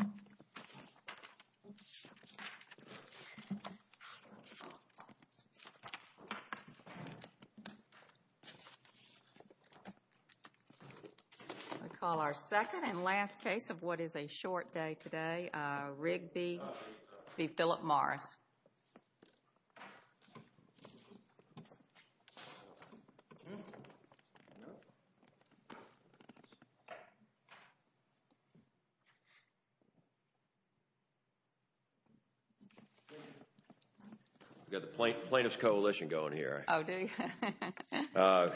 I call our second and last case of what is a short day today, Rigby v. Philip Morris. We've got the Plaintiff's Coalition going here. Oh, do you?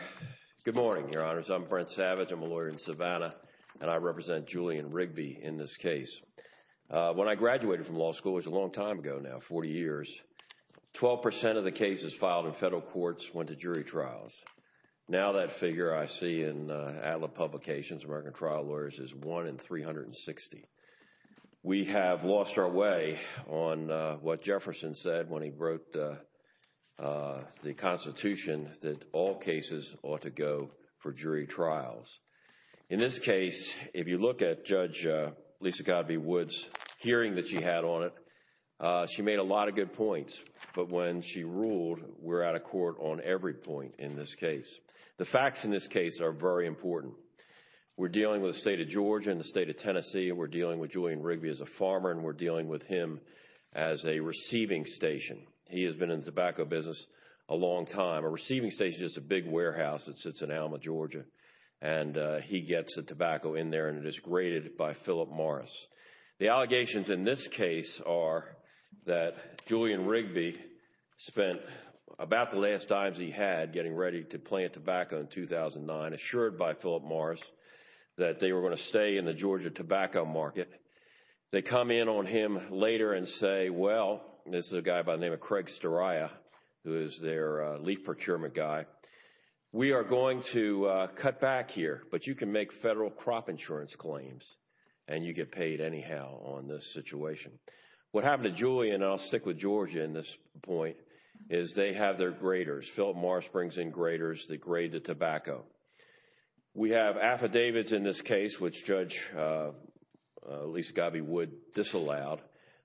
Good morning, Your Honors. I'm Brent Savage. I'm a lawyer in Savannah, and I represent Julian Rigby in this case. When I graduated from law school, it was a long time ago now, 40 years, 12% of the cases filed in federal courts went to jury trials. Now that figure I see in publications, American Trial Lawyers, is 1 in 360. We have lost our way on what Jefferson said when he wrote the Constitution that all cases ought to go for jury trials. In this case, if you look at Judge Lisa Codby Wood's hearing that she had on it, she made a lot of good points, but when she ruled, we're out of court on every point in this case. The facts in this case are very important. We're dealing with the state of Georgia and the state of Tennessee, and we're dealing with Julian Rigby as a farmer, and we're dealing with him as a receiving station. He has been in the tobacco business a long time. A receiving station is a big warehouse that sits in Alma, Georgia, and he gets the tobacco in there, and it is graded by Philip Morris. The allegations in this case are that Julian Rigby spent about the last dimes he had getting ready to plant tobacco in 2009, assured by Philip Morris that they were going to stay in the Georgia tobacco market. They come in on him later and say, well, this is a guy by the name of Craig Stariah, who is their leaf procurement guy, we are going to cut back here, but you can make federal crop insurance claims, and you get paid anyhow on this situation. What happened to Julian, and I'll stick with Georgia in this point, is they have their graders. Philip Morris brings in graders that grade the tobacco. We have affidavits in this case, which Judge Lisa Gabby Wood disallowed,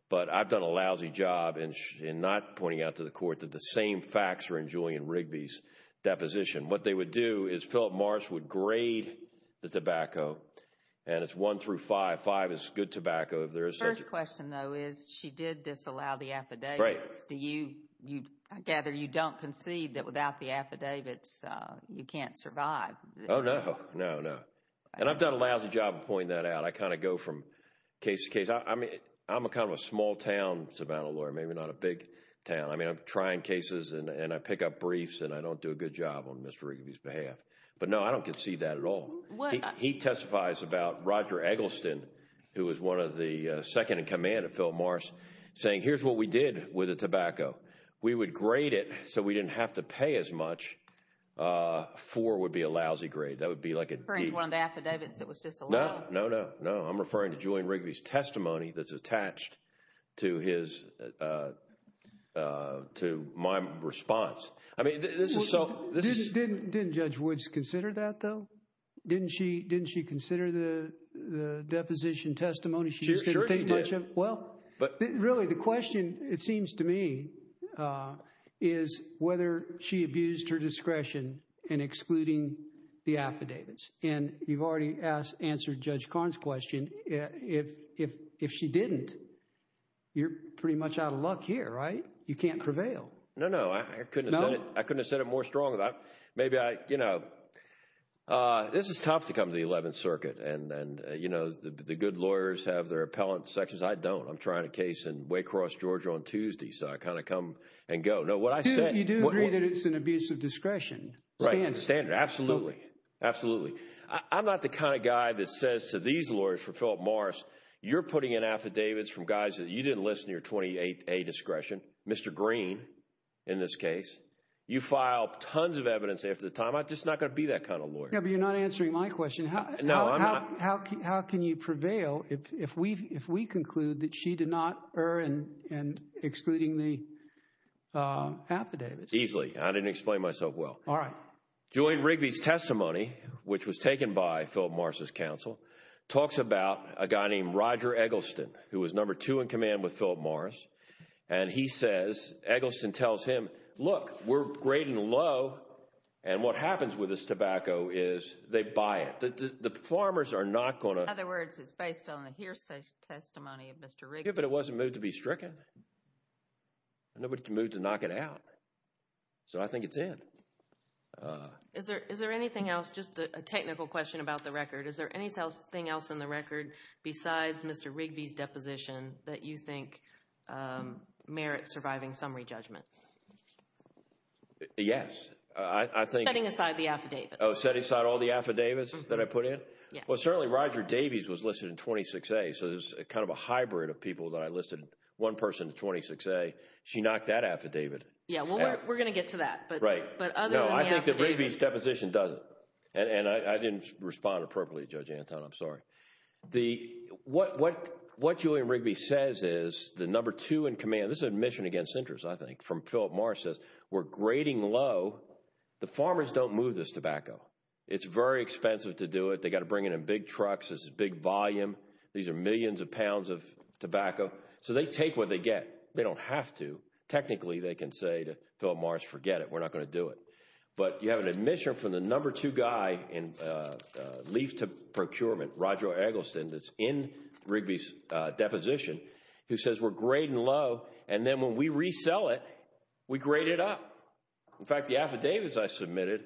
but I've done a lousy job in not pointing out to the court that the same facts are in Julian Rigby's deposition. What they would do is Philip Morris would grade the tobacco, and it's one through five. Five is good tobacco. The first question, though, is she did disallow the affidavits. I gather you don't concede that without the affidavits, you can't survive. Oh, no. No, no. And I've done a lousy job of pointing that out. I kind of go from case to case. I mean, I'm kind of a small-town Savannah lawyer, maybe not a big town. I mean, I'm trying cases, and I pick up briefs, and I don't do a good job on Mr. Rigby's behalf. But no, I don't concede that at all. He testifies about Roger Eggleston, who was one of the second-in-command of Philip Morris, saying here's what we did with the tobacco. We would grade it so we didn't have to pay as much. Four would be a lousy grade. That would be like a D. You're referring to one of the affidavits that was disallowed? No, no, no. I'm referring to Julian Rigby's testimony that's attached to my response. I mean, this is so... Didn't Judge Woods consider that, though? Didn't she consider the deposition testimony? She just didn't think much of it? Sure, she did. Well, really, the question, it seems to me, is whether she abused her discretion in excluding the affidavits. And you've already answered Judge Karn's question. If she didn't, you're pretty much out of luck here, right? You can't prevail. No, no. I couldn't have said it more strongly. Maybe I, you know... This is tough to come to the 11th Circuit, and, you know, the good lawyers have their appellate sections. I don't. I'm trying a case in Waycross, Georgia, on Tuesday, so I kind of come and go. No, what I said... You do agree that it's an abuse of discretion? Standard. Right. Absolutely. I'm not the kind of guy that says to these lawyers, for Philip Morris, you're putting in affidavits from guys that you didn't listen to your 28A discretion. Mr. Green, in this case. You filed tons of evidence after the time, I'm just not going to be that kind of lawyer. Yeah, but you're not answering my question. How can you prevail if we conclude that she did not err in excluding the affidavits? Easily. I didn't explain myself well. All right. Julian Rigby's testimony, which was taken by Philip Morris' counsel, talks about a guy named Roger Eggleston, who was number two in command with Philip Morris. And he says, Eggleston tells him, look, we're great and low, and what happens with this tobacco is they buy it. The farmers are not going to... In other words, it's based on the hearsay testimony of Mr. Rigby. Yeah, but it wasn't moved to be stricken. Nobody moved to knock it out. So I think it's in. Is there anything else? Just a technical question about the record. Is there anything else in the record besides Mr. Rigby's deposition that you think merits surviving summary judgment? Yes, I think... Setting aside the affidavits. Oh, setting aside all the affidavits that I put in? Yeah. Well, certainly Roger Davies was listed in 26A, so there's kind of a hybrid of people that I listed one person to 26A. She knocked that affidavit. Yeah. Well, we're going to get to that. Right. But other than the affidavits... No, I think that Rigby's deposition doesn't. And I didn't respond appropriately to Judge Anton, I'm sorry. What Julian Rigby says is, the number two in command, this is an admission against interest, I think, from Philip Morris says, we're grading low. The farmers don't move this tobacco. It's very expensive to do it. They got to bring it in big trucks, this is big volume. These are millions of pounds of tobacco. So they take what they get. They don't have to. Technically, they can say to Philip Morris, forget it, we're not going to do it. But you have an admission from the number two guy in leaf to procurement, Roger Eggleston, that's in Rigby's deposition, who says we're grading low, and then when we resell it, we grade it up. In fact, the affidavits I submitted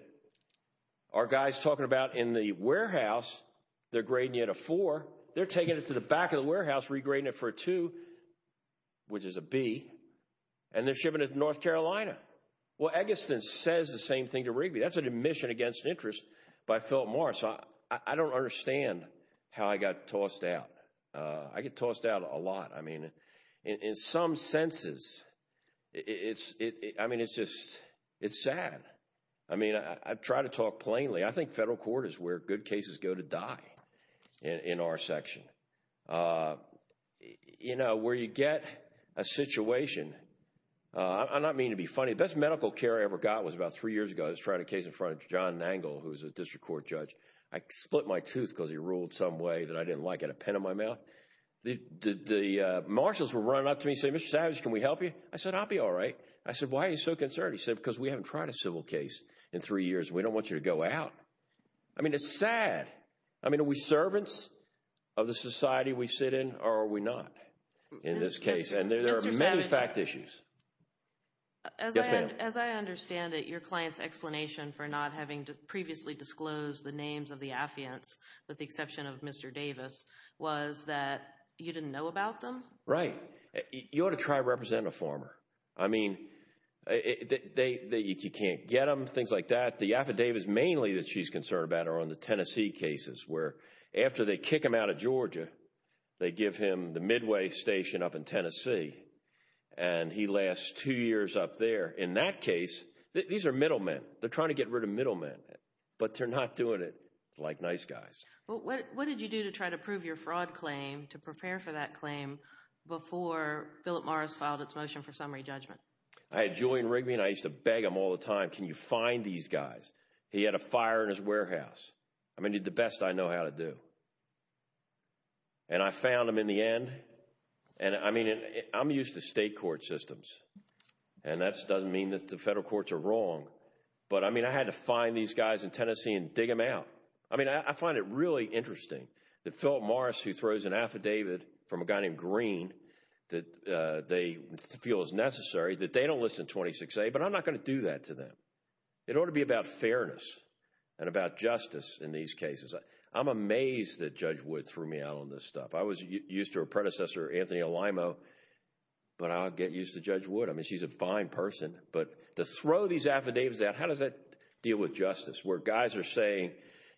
are guys talking about in the warehouse, they're grading it at a four, they're taking it to the back of the warehouse, regrading it for a two, which is a B, and they're shipping it to North Carolina. Well, Eggleston says the same thing to Rigby. That's an admission against interest by Philip Morris. I don't understand how I got tossed out. I get tossed out a lot. I mean, in some senses, it's, I mean, it's just, it's sad. I mean, I try to talk plainly. I think federal court is where good cases go to die in our section. You know, where you get a situation, I'm not meaning to be funny, the best medical care I ever got was about three years ago. I was trying a case in front of John Nangle, who was a district court judge. I split my tooth because he ruled some way that I didn't like, had a pen in my mouth. The marshals were running up to me, saying, Mr. Savage, can we help you? I said, I'll be all right. I said, why are you so concerned? He said, because we haven't tried a civil case in three years. We don't want you to go out. I mean, it's sad. I mean, are we servants of the society we sit in, or are we not in this case? And there are many fact issues. As I understand it, your client's explanation for not having previously disclosed the names of the affiants, with the exception of Mr. Davis, was that you didn't know about them? Right. You ought to try to represent a former. I mean, you can't get them, things like that. The affidavits mainly that she's concerned about are on the Tennessee cases, where after they kick him out of Georgia, they give him the Midway station up in Tennessee, and he lasts two years up there. In that case, these are middlemen. They're trying to get rid of middlemen, but they're not doing it like nice guys. What did you do to try to prove your fraud claim, to prepare for that claim, before Philip Morris filed its motion for summary judgment? I had Julian Rigby, and I used to beg him all the time. Can you find these guys? He had a fire in his warehouse. I mean, the best I know how to do. And I found them in the end, and I mean, I'm used to state court systems, and that doesn't mean that the federal courts are wrong, but I mean, I had to find these guys in Tennessee and dig them out. I mean, I find it really interesting that Philip Morris, who throws an affidavit from a guy named Green, that they feel is necessary, that they don't listen to 26A, but I'm not going to do that to them. It ought to be about fairness, and about justice in these cases. I'm amazed that Judge Wood threw me out on this stuff. I was used to her predecessor, Anthony Elimo, but I'll get used to Judge Wood. I mean, she's a fine person, but to throw these affidavits out, how does that deal with justice, where guys are saying,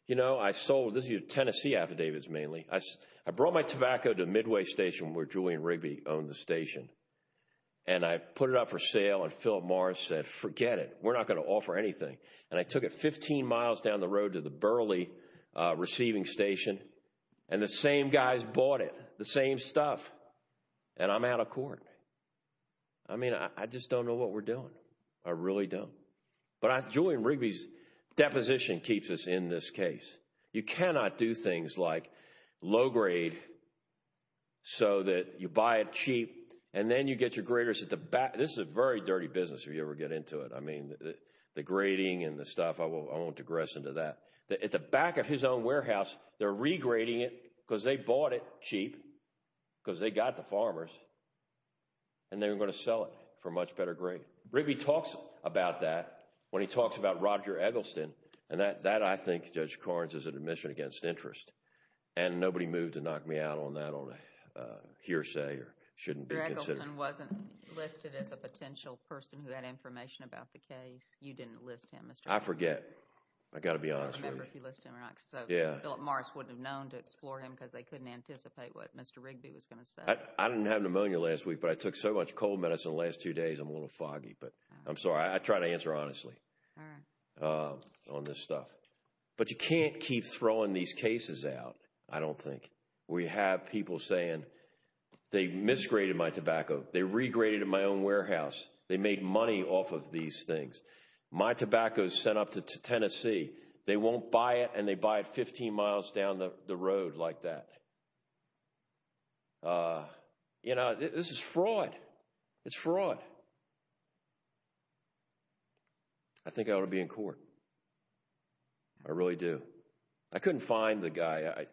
you know, I sold... This is Tennessee affidavits mainly. I brought my tobacco to Midway Station, where Julian Rigby owned the station, and I put it up for sale, and Philip Morris said, forget it. We're not going to offer anything, and I took it 15 miles down the road to the Burley receiving station, and the same guys bought it, the same stuff, and I'm out of court. I mean, I just don't know what we're doing. I really don't, but Julian Rigby's deposition keeps us in this case. You cannot do things like low grade so that you buy it cheap, and then you get your graders at the back. This is a very dirty business if you ever get into it. I mean, the grading and the stuff, I won't digress into that. At the back of his own warehouse, they're regrading it, because they bought it cheap, because they got the farmers, and they're going to sell it for a much better grade. Rigby talks about that when he talks about Roger Eggleston, and that, I think, Judge Karnes is an admission against interest, and nobody moved to knock me out on that on hearsay or shouldn't be considered. Mr. Eggleston wasn't listed as a potential person who had information about the case. You didn't list him as... I forget. I've got to be honest with you. I don't remember if you list him or not, because Philip Morris wouldn't have known to explore him because they couldn't anticipate what Mr. Rigby was going to say. I didn't have pneumonia last week, but I took so much cold medicine the last two days, I'm a little foggy, but I'm sorry. I try to answer honestly on this stuff. But you can't keep throwing these cases out, I don't think. We have people saying, they misgraded my tobacco, they regraded in my own warehouse, they made money off of these things. My tobacco is sent up to Tennessee. They won't buy it, and they buy it 15 miles down the road like that. This is fraud. It's fraud. I think I ought to be in court. I really do. I couldn't find the guy.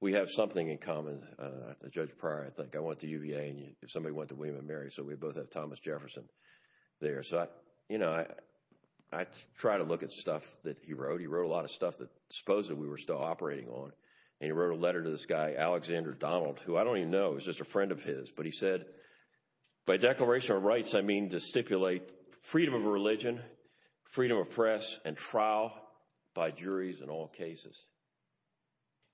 We have something in common, after Judge Pryor, I think. I went to UVA, and somebody went to William & Mary, so we both have Thomas Jefferson there. I try to look at stuff that he wrote. He wrote a lot of stuff that I suppose that we were still operating on, and he wrote a letter to this guy, Alexander Donald, who I don't even know, he was just a friend of his, but he said, by Declaration of Rights, I mean to stipulate freedom of religion, freedom of press, and trial by juries in all cases.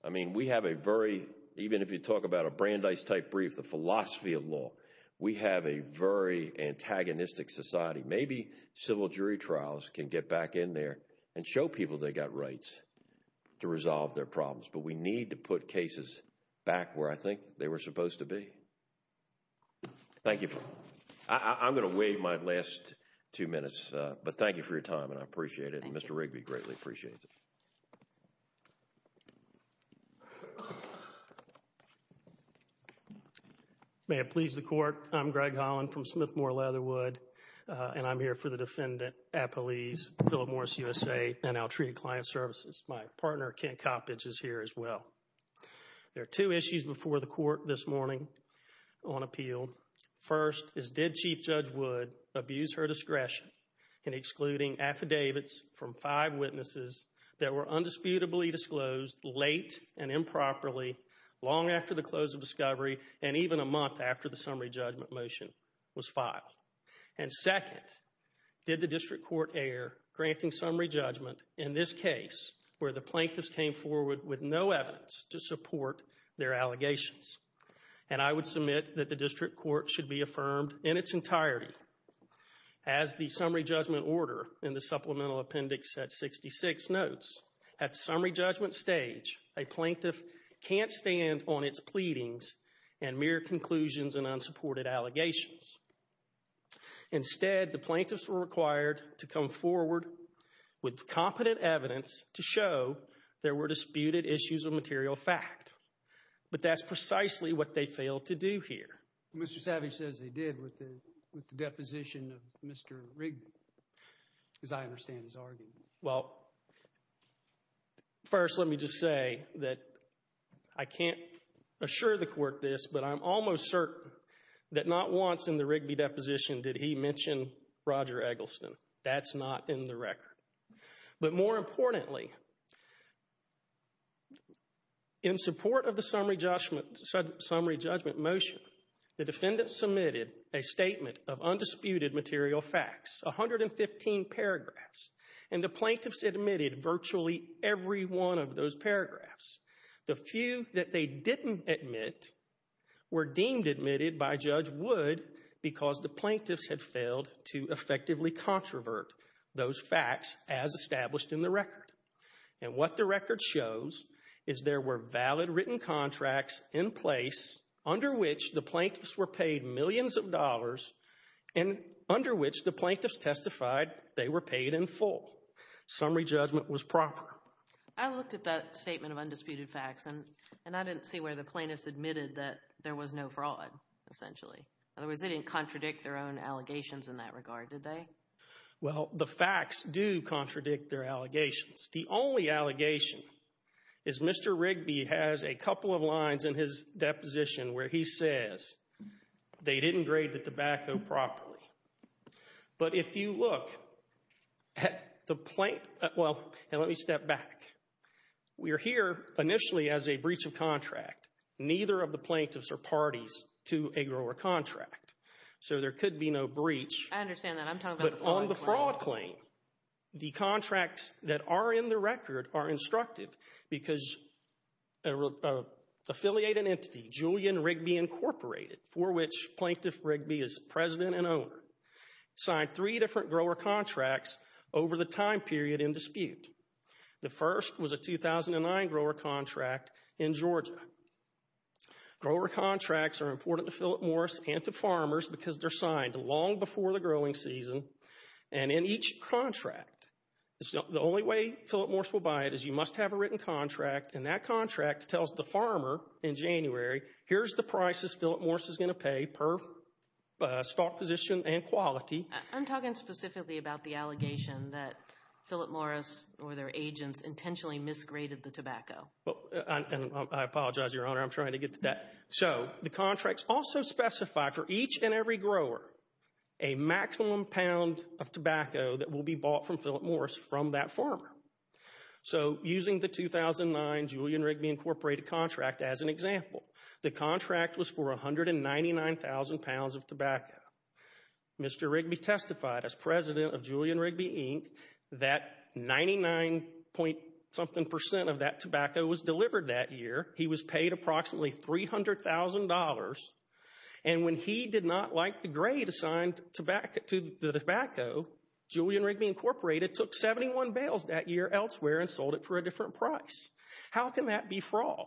I mean, we have a very, even if you talk about a Brandeis-type brief, the philosophy of law, we have a very antagonistic society. Maybe civil jury trials can get back in there and show people they got rights to resolve their problems, but we need to put cases back where I think they were supposed to be. Thank you. I'm going to waive my last two minutes, but thank you for your time, and I appreciate it, and Mr. Rigby greatly appreciates it. May it please the Court, I'm Greg Holland from Smith-Moore Leatherwood, and I'm here for the defendant, Appelese, Phillip Morris USA and Outreach and Client Services. My partner, Kent Coppedge, is here as well. There are two issues before the Court this morning on appeal. First is, did Chief Judge Wood abuse her discretion in excluding affidavits from five witnesses that were undisputably disclosed late and improperly, long after the close of discovery and even a month after the summary judgment motion was filed? And second, did the District Court err, granting summary judgment in this case where the plaintiffs came forward with no evidence to support their allegations? And I would submit that the District Court should be affirmed in its entirety as the District's notes, at summary judgment stage, a plaintiff can't stand on its pleadings and mere conclusions and unsupported allegations. Instead, the plaintiffs were required to come forward with competent evidence to show there were disputed issues of material fact. But that's precisely what they failed to do here. Mr. Savage says they did with the deposition of Mr. Rigby, as I understand his argument. Well, first let me just say that I can't assure the Court this, but I'm almost certain that not once in the Rigby deposition did he mention Roger Eggleston. That's not in the record. But more importantly, in support of the summary judgment motion, the defendant submitted a The plaintiffs admitted virtually every one of those paragraphs. The few that they didn't admit were deemed admitted by Judge Wood because the plaintiffs had failed to effectively controvert those facts as established in the record. And what the record shows is there were valid written contracts in place under which the plaintiffs were paid millions of dollars and under which the plaintiffs testified they were paid in full. Summary judgment was proper. I looked at that statement of undisputed facts and I didn't see where the plaintiffs admitted that there was no fraud, essentially. In other words, they didn't contradict their own allegations in that regard, did they? Well, the facts do contradict their allegations. The only allegation is Mr. Rigby has a couple of lines in his deposition where he says they didn't grade the tobacco properly. But if you look at the plaintiff, well, now let me step back. We're here initially as a breach of contract. Neither of the plaintiffs are parties to a grower contract. So there could be no breach. I understand that. I'm talking about the fraud claim. But on the fraud claim, the contracts that are in the record are instructive because an affiliated entity, Julian Rigby Incorporated, for which Plaintiff Rigby is president and signed three different grower contracts over the time period in dispute. The first was a 2009 grower contract in Georgia. Grower contracts are important to Philip Morse and to farmers because they're signed long before the growing season. And in each contract, the only way Philip Morse will buy it is you must have a written contract and that contract tells the farmer in January, here's the prices Philip Morse is going to pay per stock position and quality. I'm talking specifically about the allegation that Philip Morse or their agents intentionally misgraded the tobacco. Well, I apologize, Your Honor. I'm trying to get to that. So the contracts also specify for each and every grower a maximum pound of tobacco that will be bought from Philip Morse from that farmer. So using the 2009 Julian Rigby Incorporated contract as an example, the contract was for 199,000 pounds of tobacco. Mr. Rigby testified as president of Julian Rigby Inc. that 99 point something percent of that tobacco was delivered that year. He was paid approximately $300,000. And when he did not like the grade assigned to the tobacco, Julian Rigby Incorporated took 71 bales that year elsewhere and sold it for a different price. How can that be fraud?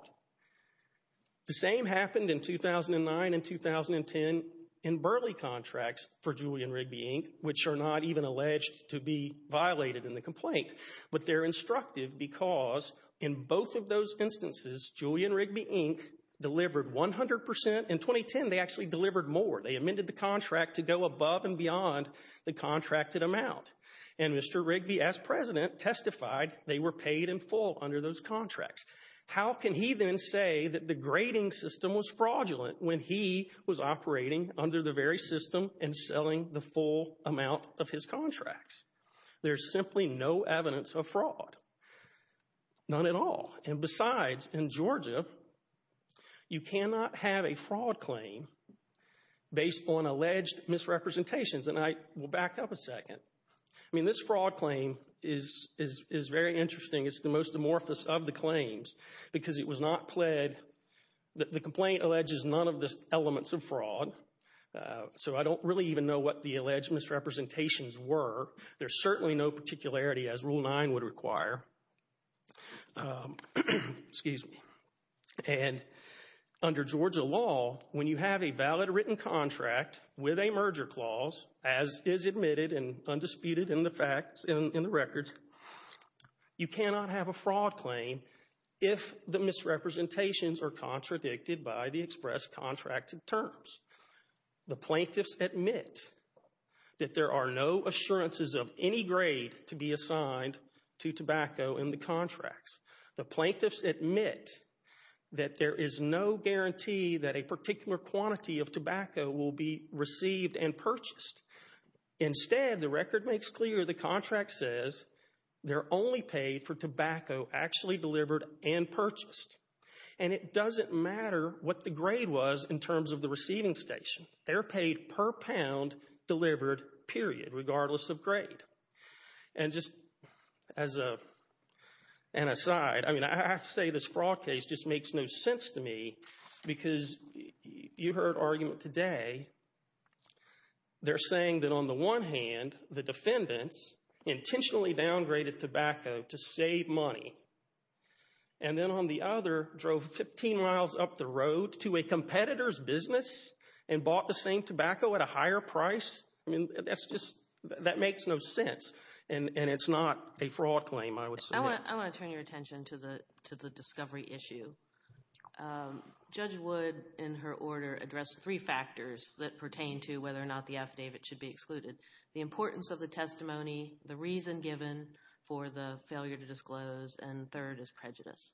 The same happened in 2009 and 2010 in Burley contracts for Julian Rigby Inc., which are not even alleged to be violated in the complaint. But they're instructive because in both of those instances, Julian Rigby Inc. delivered 100 percent. In 2010, they actually delivered more. They amended the contract to go above and beyond the contracted amount. And Mr. Rigby, as president, testified they were paid in full under those contracts. How can he then say that the grading system was fraudulent when he was operating under the very system and selling the full amount of his contracts? There's simply no evidence of fraud. None at all. And besides, in Georgia, you cannot have a fraud claim based on alleged misrepresentations. And I will back up a second. I mean, this fraud claim is very interesting. It's the most amorphous of the claims because it was not pled. The complaint alleges none of the elements of fraud. So I don't really even know what the alleged misrepresentations were. There's certainly no particularity, as Rule 9 would require. And under Georgia law, when you have a valid written contract with a merger clause, as is admitted and undisputed in the facts, in the records, you cannot have a fraud claim if the misrepresentations are contradicted by the express contracted terms. The plaintiffs admit that there are no assurances of any grade to be assigned to tobacco in the contracts. The plaintiffs admit that there is no guarantee that a particular quantity of tobacco will be received and purchased. Instead, the record makes clear the contract says they're only paid for tobacco actually delivered and purchased. And it doesn't matter what the grade was in terms of the receiving station. They're paid per pound delivered, period, regardless of grade. And just as an aside, I mean, I have to say this fraud case just makes no sense to me because you heard argument today. They're saying that on the one hand, the defendants intentionally downgraded tobacco to save money. And then on the other, drove 15 miles up the road to a competitor's business and bought the same tobacco at a higher price. I mean, that's just, that makes no sense. And it's not a fraud claim, I would say. I want to turn your attention to the discovery issue. Judge Wood, in her order, addressed three factors that pertain to whether or not the affidavit should be excluded. The importance of the testimony, the reason given for the failure to disclose, and third is prejudice.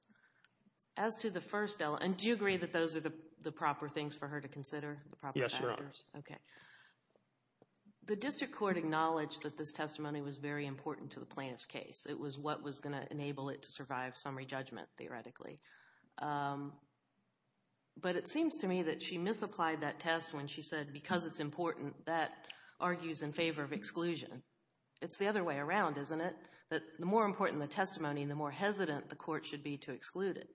As to the first element, and do you agree that those are the proper things for her to consider? The proper factors? Yes, Your Honor. Okay. The district court acknowledged that this testimony was very important to the plaintiff's case. It was what was going to enable it to survive summary judgment, theoretically. But it seems to me that she misapplied that test when she said, because it's important, that argues in favor of exclusion. It's the other way around, isn't it? That the more important the testimony, the more hesitant the court should be to exclude it.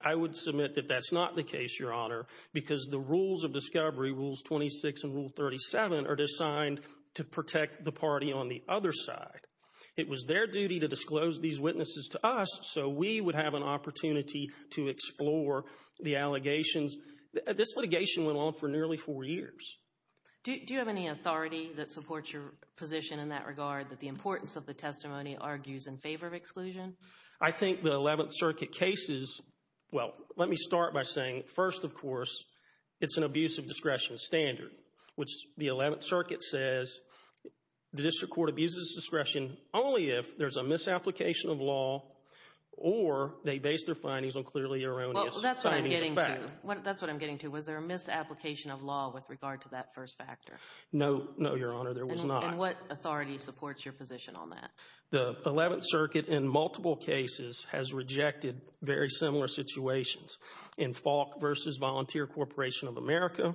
I would submit that that's not the case, Your Honor, because the rules of discovery, Rules 26 and Rule 37, are designed to protect the party on the other side. It was their duty to disclose these witnesses to us, so we would have an opportunity to explore the allegations. This litigation went on for nearly four years. Do you have any authority that supports your position in that regard, that the importance of the testimony argues in favor of exclusion? I think the Eleventh Circuit cases, well, let me start by saying, first, of course, it's an abuse of discretion standard, which the Eleventh Circuit says the district court abuses discretion only if there's a misapplication of law or they base their findings on clearly erroneous findings of fact. Well, that's what I'm getting to. That's what I'm getting to. Was there a misapplication of law with regard to that first factor? No, no, Your Honor, there was not. And what authority supports your position on that? The Eleventh Circuit, in multiple cases, has rejected very similar situations. In Falk v. Volunteer Corporation of America,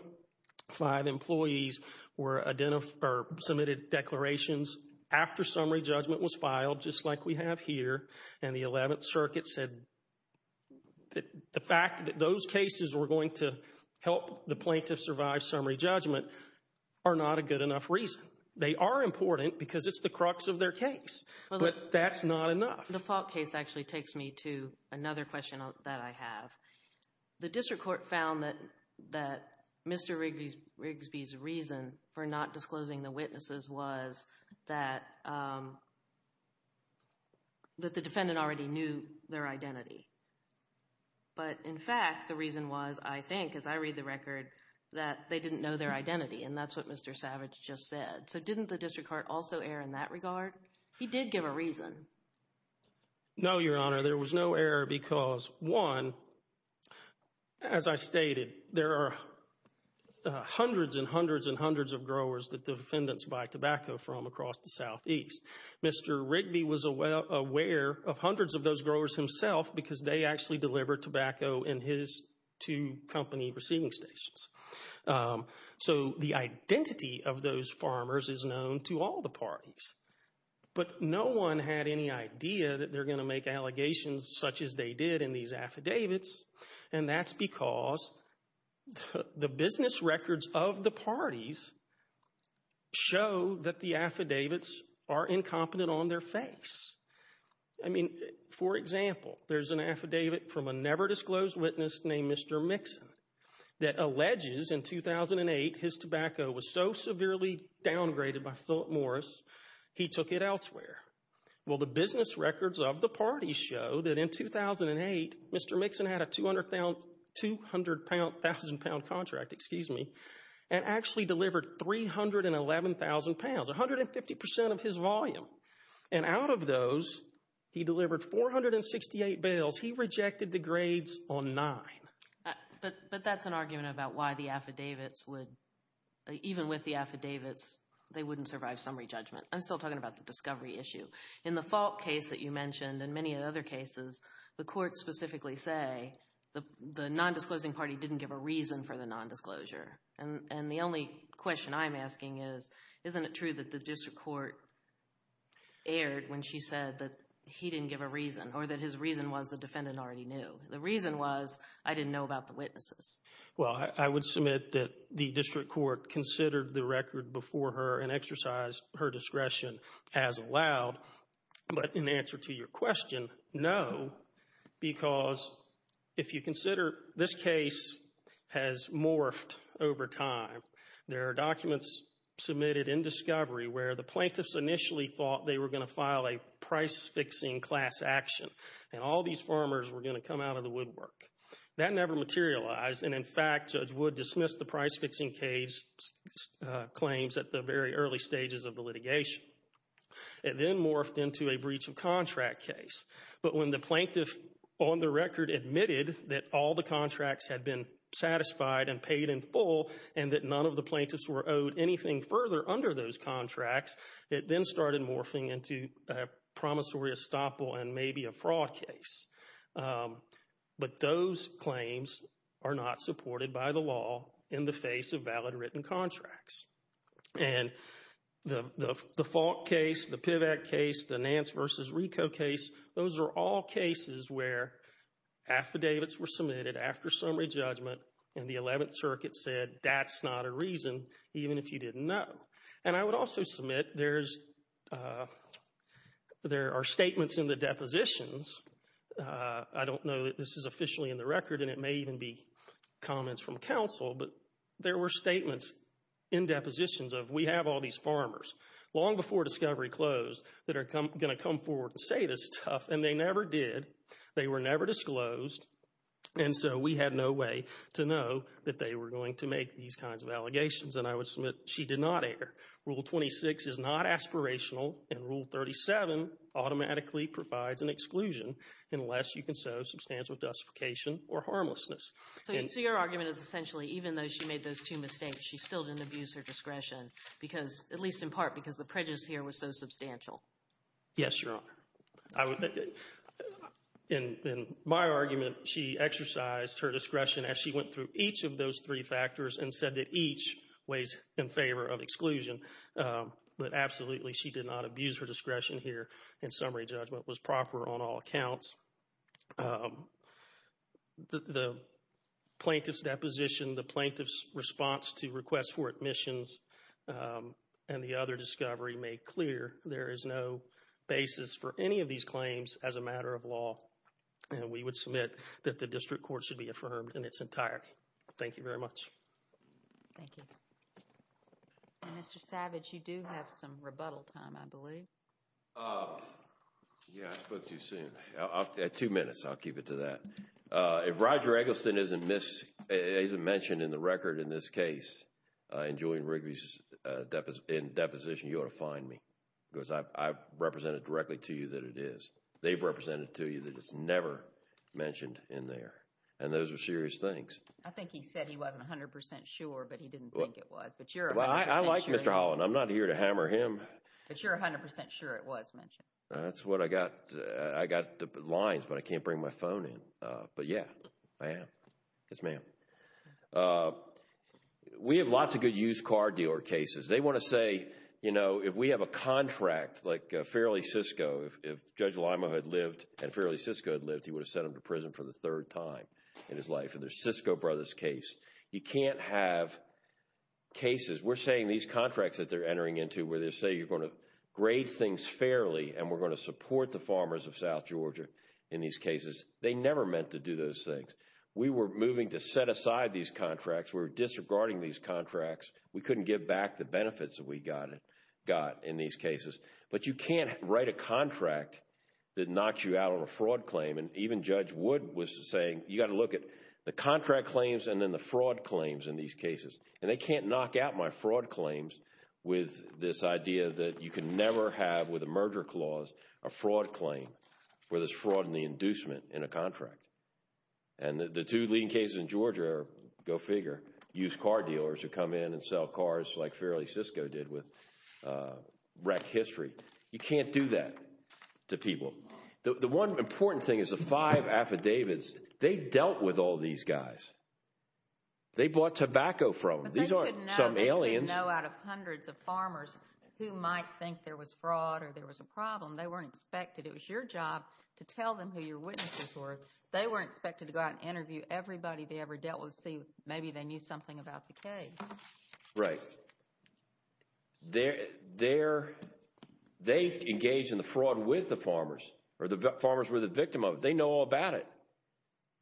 five employees submitted declarations after summary judgment was filed, just like we have here, and the Eleventh Circuit said that the fact that those cases were going to help the plaintiff survive summary judgment are not a good enough reason. They are important because it's the crux of their case, but that's not enough. The Falk case actually takes me to another question that I have. The district court found that Mr. Rigsby's reason for not disclosing the witnesses was that the defendant already knew their identity. But in fact, the reason was, I think, as I read the record, that they didn't know their identity and that's what Mr. Savage just said. So didn't the district court also err in that regard? He did give a reason. No, Your Honor, there was no error because, one, as I stated, there are hundreds and hundreds and hundreds of growers that the defendants buy tobacco from across the Southeast. Mr. Rigsby was aware of hundreds of those growers himself because they actually deliver tobacco in his two company receiving stations. So the identity of those farmers is known to all the parties. But no one had any idea that they're going to make allegations such as they did in these affidavits and that's because the business records of the parties show that the affidavits are incompetent on their face. I mean, for example, there's an affidavit from a never disclosed witness named Mr. Mixon that alleges in 2008 his tobacco was so severely downgraded by Philip Morris, he took it elsewhere. Well, the business records of the parties show that in 2008, Mr. Mixon had a 200,000 pound contract, excuse me, and actually delivered 311,000 pounds, 150% of his volume. And out of those, he delivered 468 bales. He rejected the grades on nine. But that's an argument about why the affidavits would, even with the affidavits, they wouldn't survive summary judgment. I'm still talking about the discovery issue. In the fault case that you mentioned and many other cases, the courts specifically say the non-disclosing party didn't give a reason for the non-disclosure. And the only question I'm asking is, isn't it true that the district court erred when she said that he didn't give a reason or that his reason was the defendant already knew? The reason was I didn't know about the witnesses. Well, I would submit that the district court considered the record before her and exercised her discretion as allowed. But in answer to your question, no, because if you consider this case has morphed over time. There are documents submitted in discovery where the plaintiffs initially thought they were going to file a price-fixing class action. And all these farmers were going to come out of the woodwork. That never materialized. And in fact, Judge Wood dismissed the price-fixing case claims at the very early stages of the litigation. It then morphed into a breach of contract case. But when the plaintiff on the record admitted that all the contracts had been satisfied and paid in full and that none of the plaintiffs were owed anything further under those contracts, it then started morphing into a promissory estoppel and maybe a fraud case. But those claims are not supported by the law in the face of valid written contracts. And the Falk case, the Pivack case, the Nance v. Rico case, those are all cases where affidavits were submitted after summary judgment and the 11th Circuit said that's not a reason even if you didn't know. And I would also submit there are statements in the depositions, I don't know that this is officially in the record and it may even be comments from counsel, but there were statements in depositions of we have all these farmers long before discovery closed that are going to come forward and say this stuff. And they never did. They were never disclosed. And so we had no way to know that they were going to make these kinds of allegations. And I would submit she did not err. Rule 26 is not aspirational and Rule 37 automatically provides an exclusion unless you can show substantial justification or harmlessness. So your argument is essentially even though she made those two mistakes, she still didn't abuse her discretion because, at least in part, because the prejudice here was so substantial. Yes, Your Honor. In my argument, she exercised her discretion as she went through each of those three factors and said that each weighs in favor of exclusion. But absolutely, she did not abuse her discretion here and summary judgment was proper on all accounts. The plaintiff's deposition, the plaintiff's response to requests for admissions and the other discovery made clear there is no basis for any of these claims as a matter of law. And we would submit that the district court should be affirmed in its entirety. Thank you very much. Thank you. And Mr. Savage, you do have some rebuttal time, I believe. Yeah, I spoke too soon. Two minutes. I'll keep it to that. If Roger Eggleston isn't mentioned in the record in this case in Julian Rigby's deposition, you ought to fine me because I've represented directly to you that it is. They've represented to you that it's never mentioned in there. And those are serious things. I think he said he wasn't 100% sure, but he didn't think it was. But you're 100% sure. I like Mr. Holland. I'm not here to hammer him. But you're 100% sure it was mentioned. That's what I got. I got the lines, but I can't bring my phone in. But yeah, I am. Yes, ma'am. We have lots of good used car dealer cases. They want to say, you know, if we have a contract like Fairleigh-Cisco, if Judge Lima had lived and Fairleigh-Cisco had lived, he would have sent him to prison for the third time in his case. You can't have cases, we're saying these contracts that they're entering into where they say you're going to grade things fairly and we're going to support the farmers of South Georgia in these cases. They never meant to do those things. We were moving to set aside these contracts. We were disregarding these contracts. We couldn't give back the benefits that we got in these cases. But you can't write a contract that knocks you out of a fraud claim. Even Judge Wood was saying, you got to look at the contract claims and then the fraud claims in these cases. And they can't knock out my fraud claims with this idea that you can never have with a merger clause a fraud claim where there's fraud in the inducement in a contract. And the two leading cases in Georgia are, go figure, used car dealers who come in and sell cars like Fairleigh-Cisco did with rec history. You can't do that to people. The one important thing is the five affidavits, they dealt with all these guys. They bought tobacco from them. These aren't some aliens. They didn't know out of hundreds of farmers who might think there was fraud or there was a problem. They weren't expected. It was your job to tell them who your witnesses were. They weren't expected to go out and interview everybody they ever dealt with to see maybe they knew something about the case. Right. So, they engaged in the fraud with the farmers or the farmers were the victim of it. They know all about it.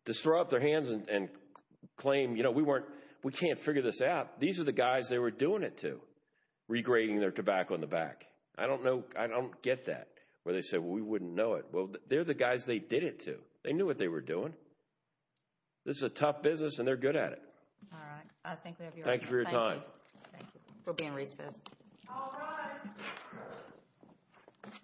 To throw up their hands and claim, you know, we can't figure this out. These are the guys they were doing it to, regrading their tobacco in the back. I don't know. I don't get that. Where they say, well, we wouldn't know it. Well, they're the guys they did it to. They knew what they were doing. This is a tough business and they're good at it. All right. I think we have your time. Thank you for your time. We'll be in recess. All rise.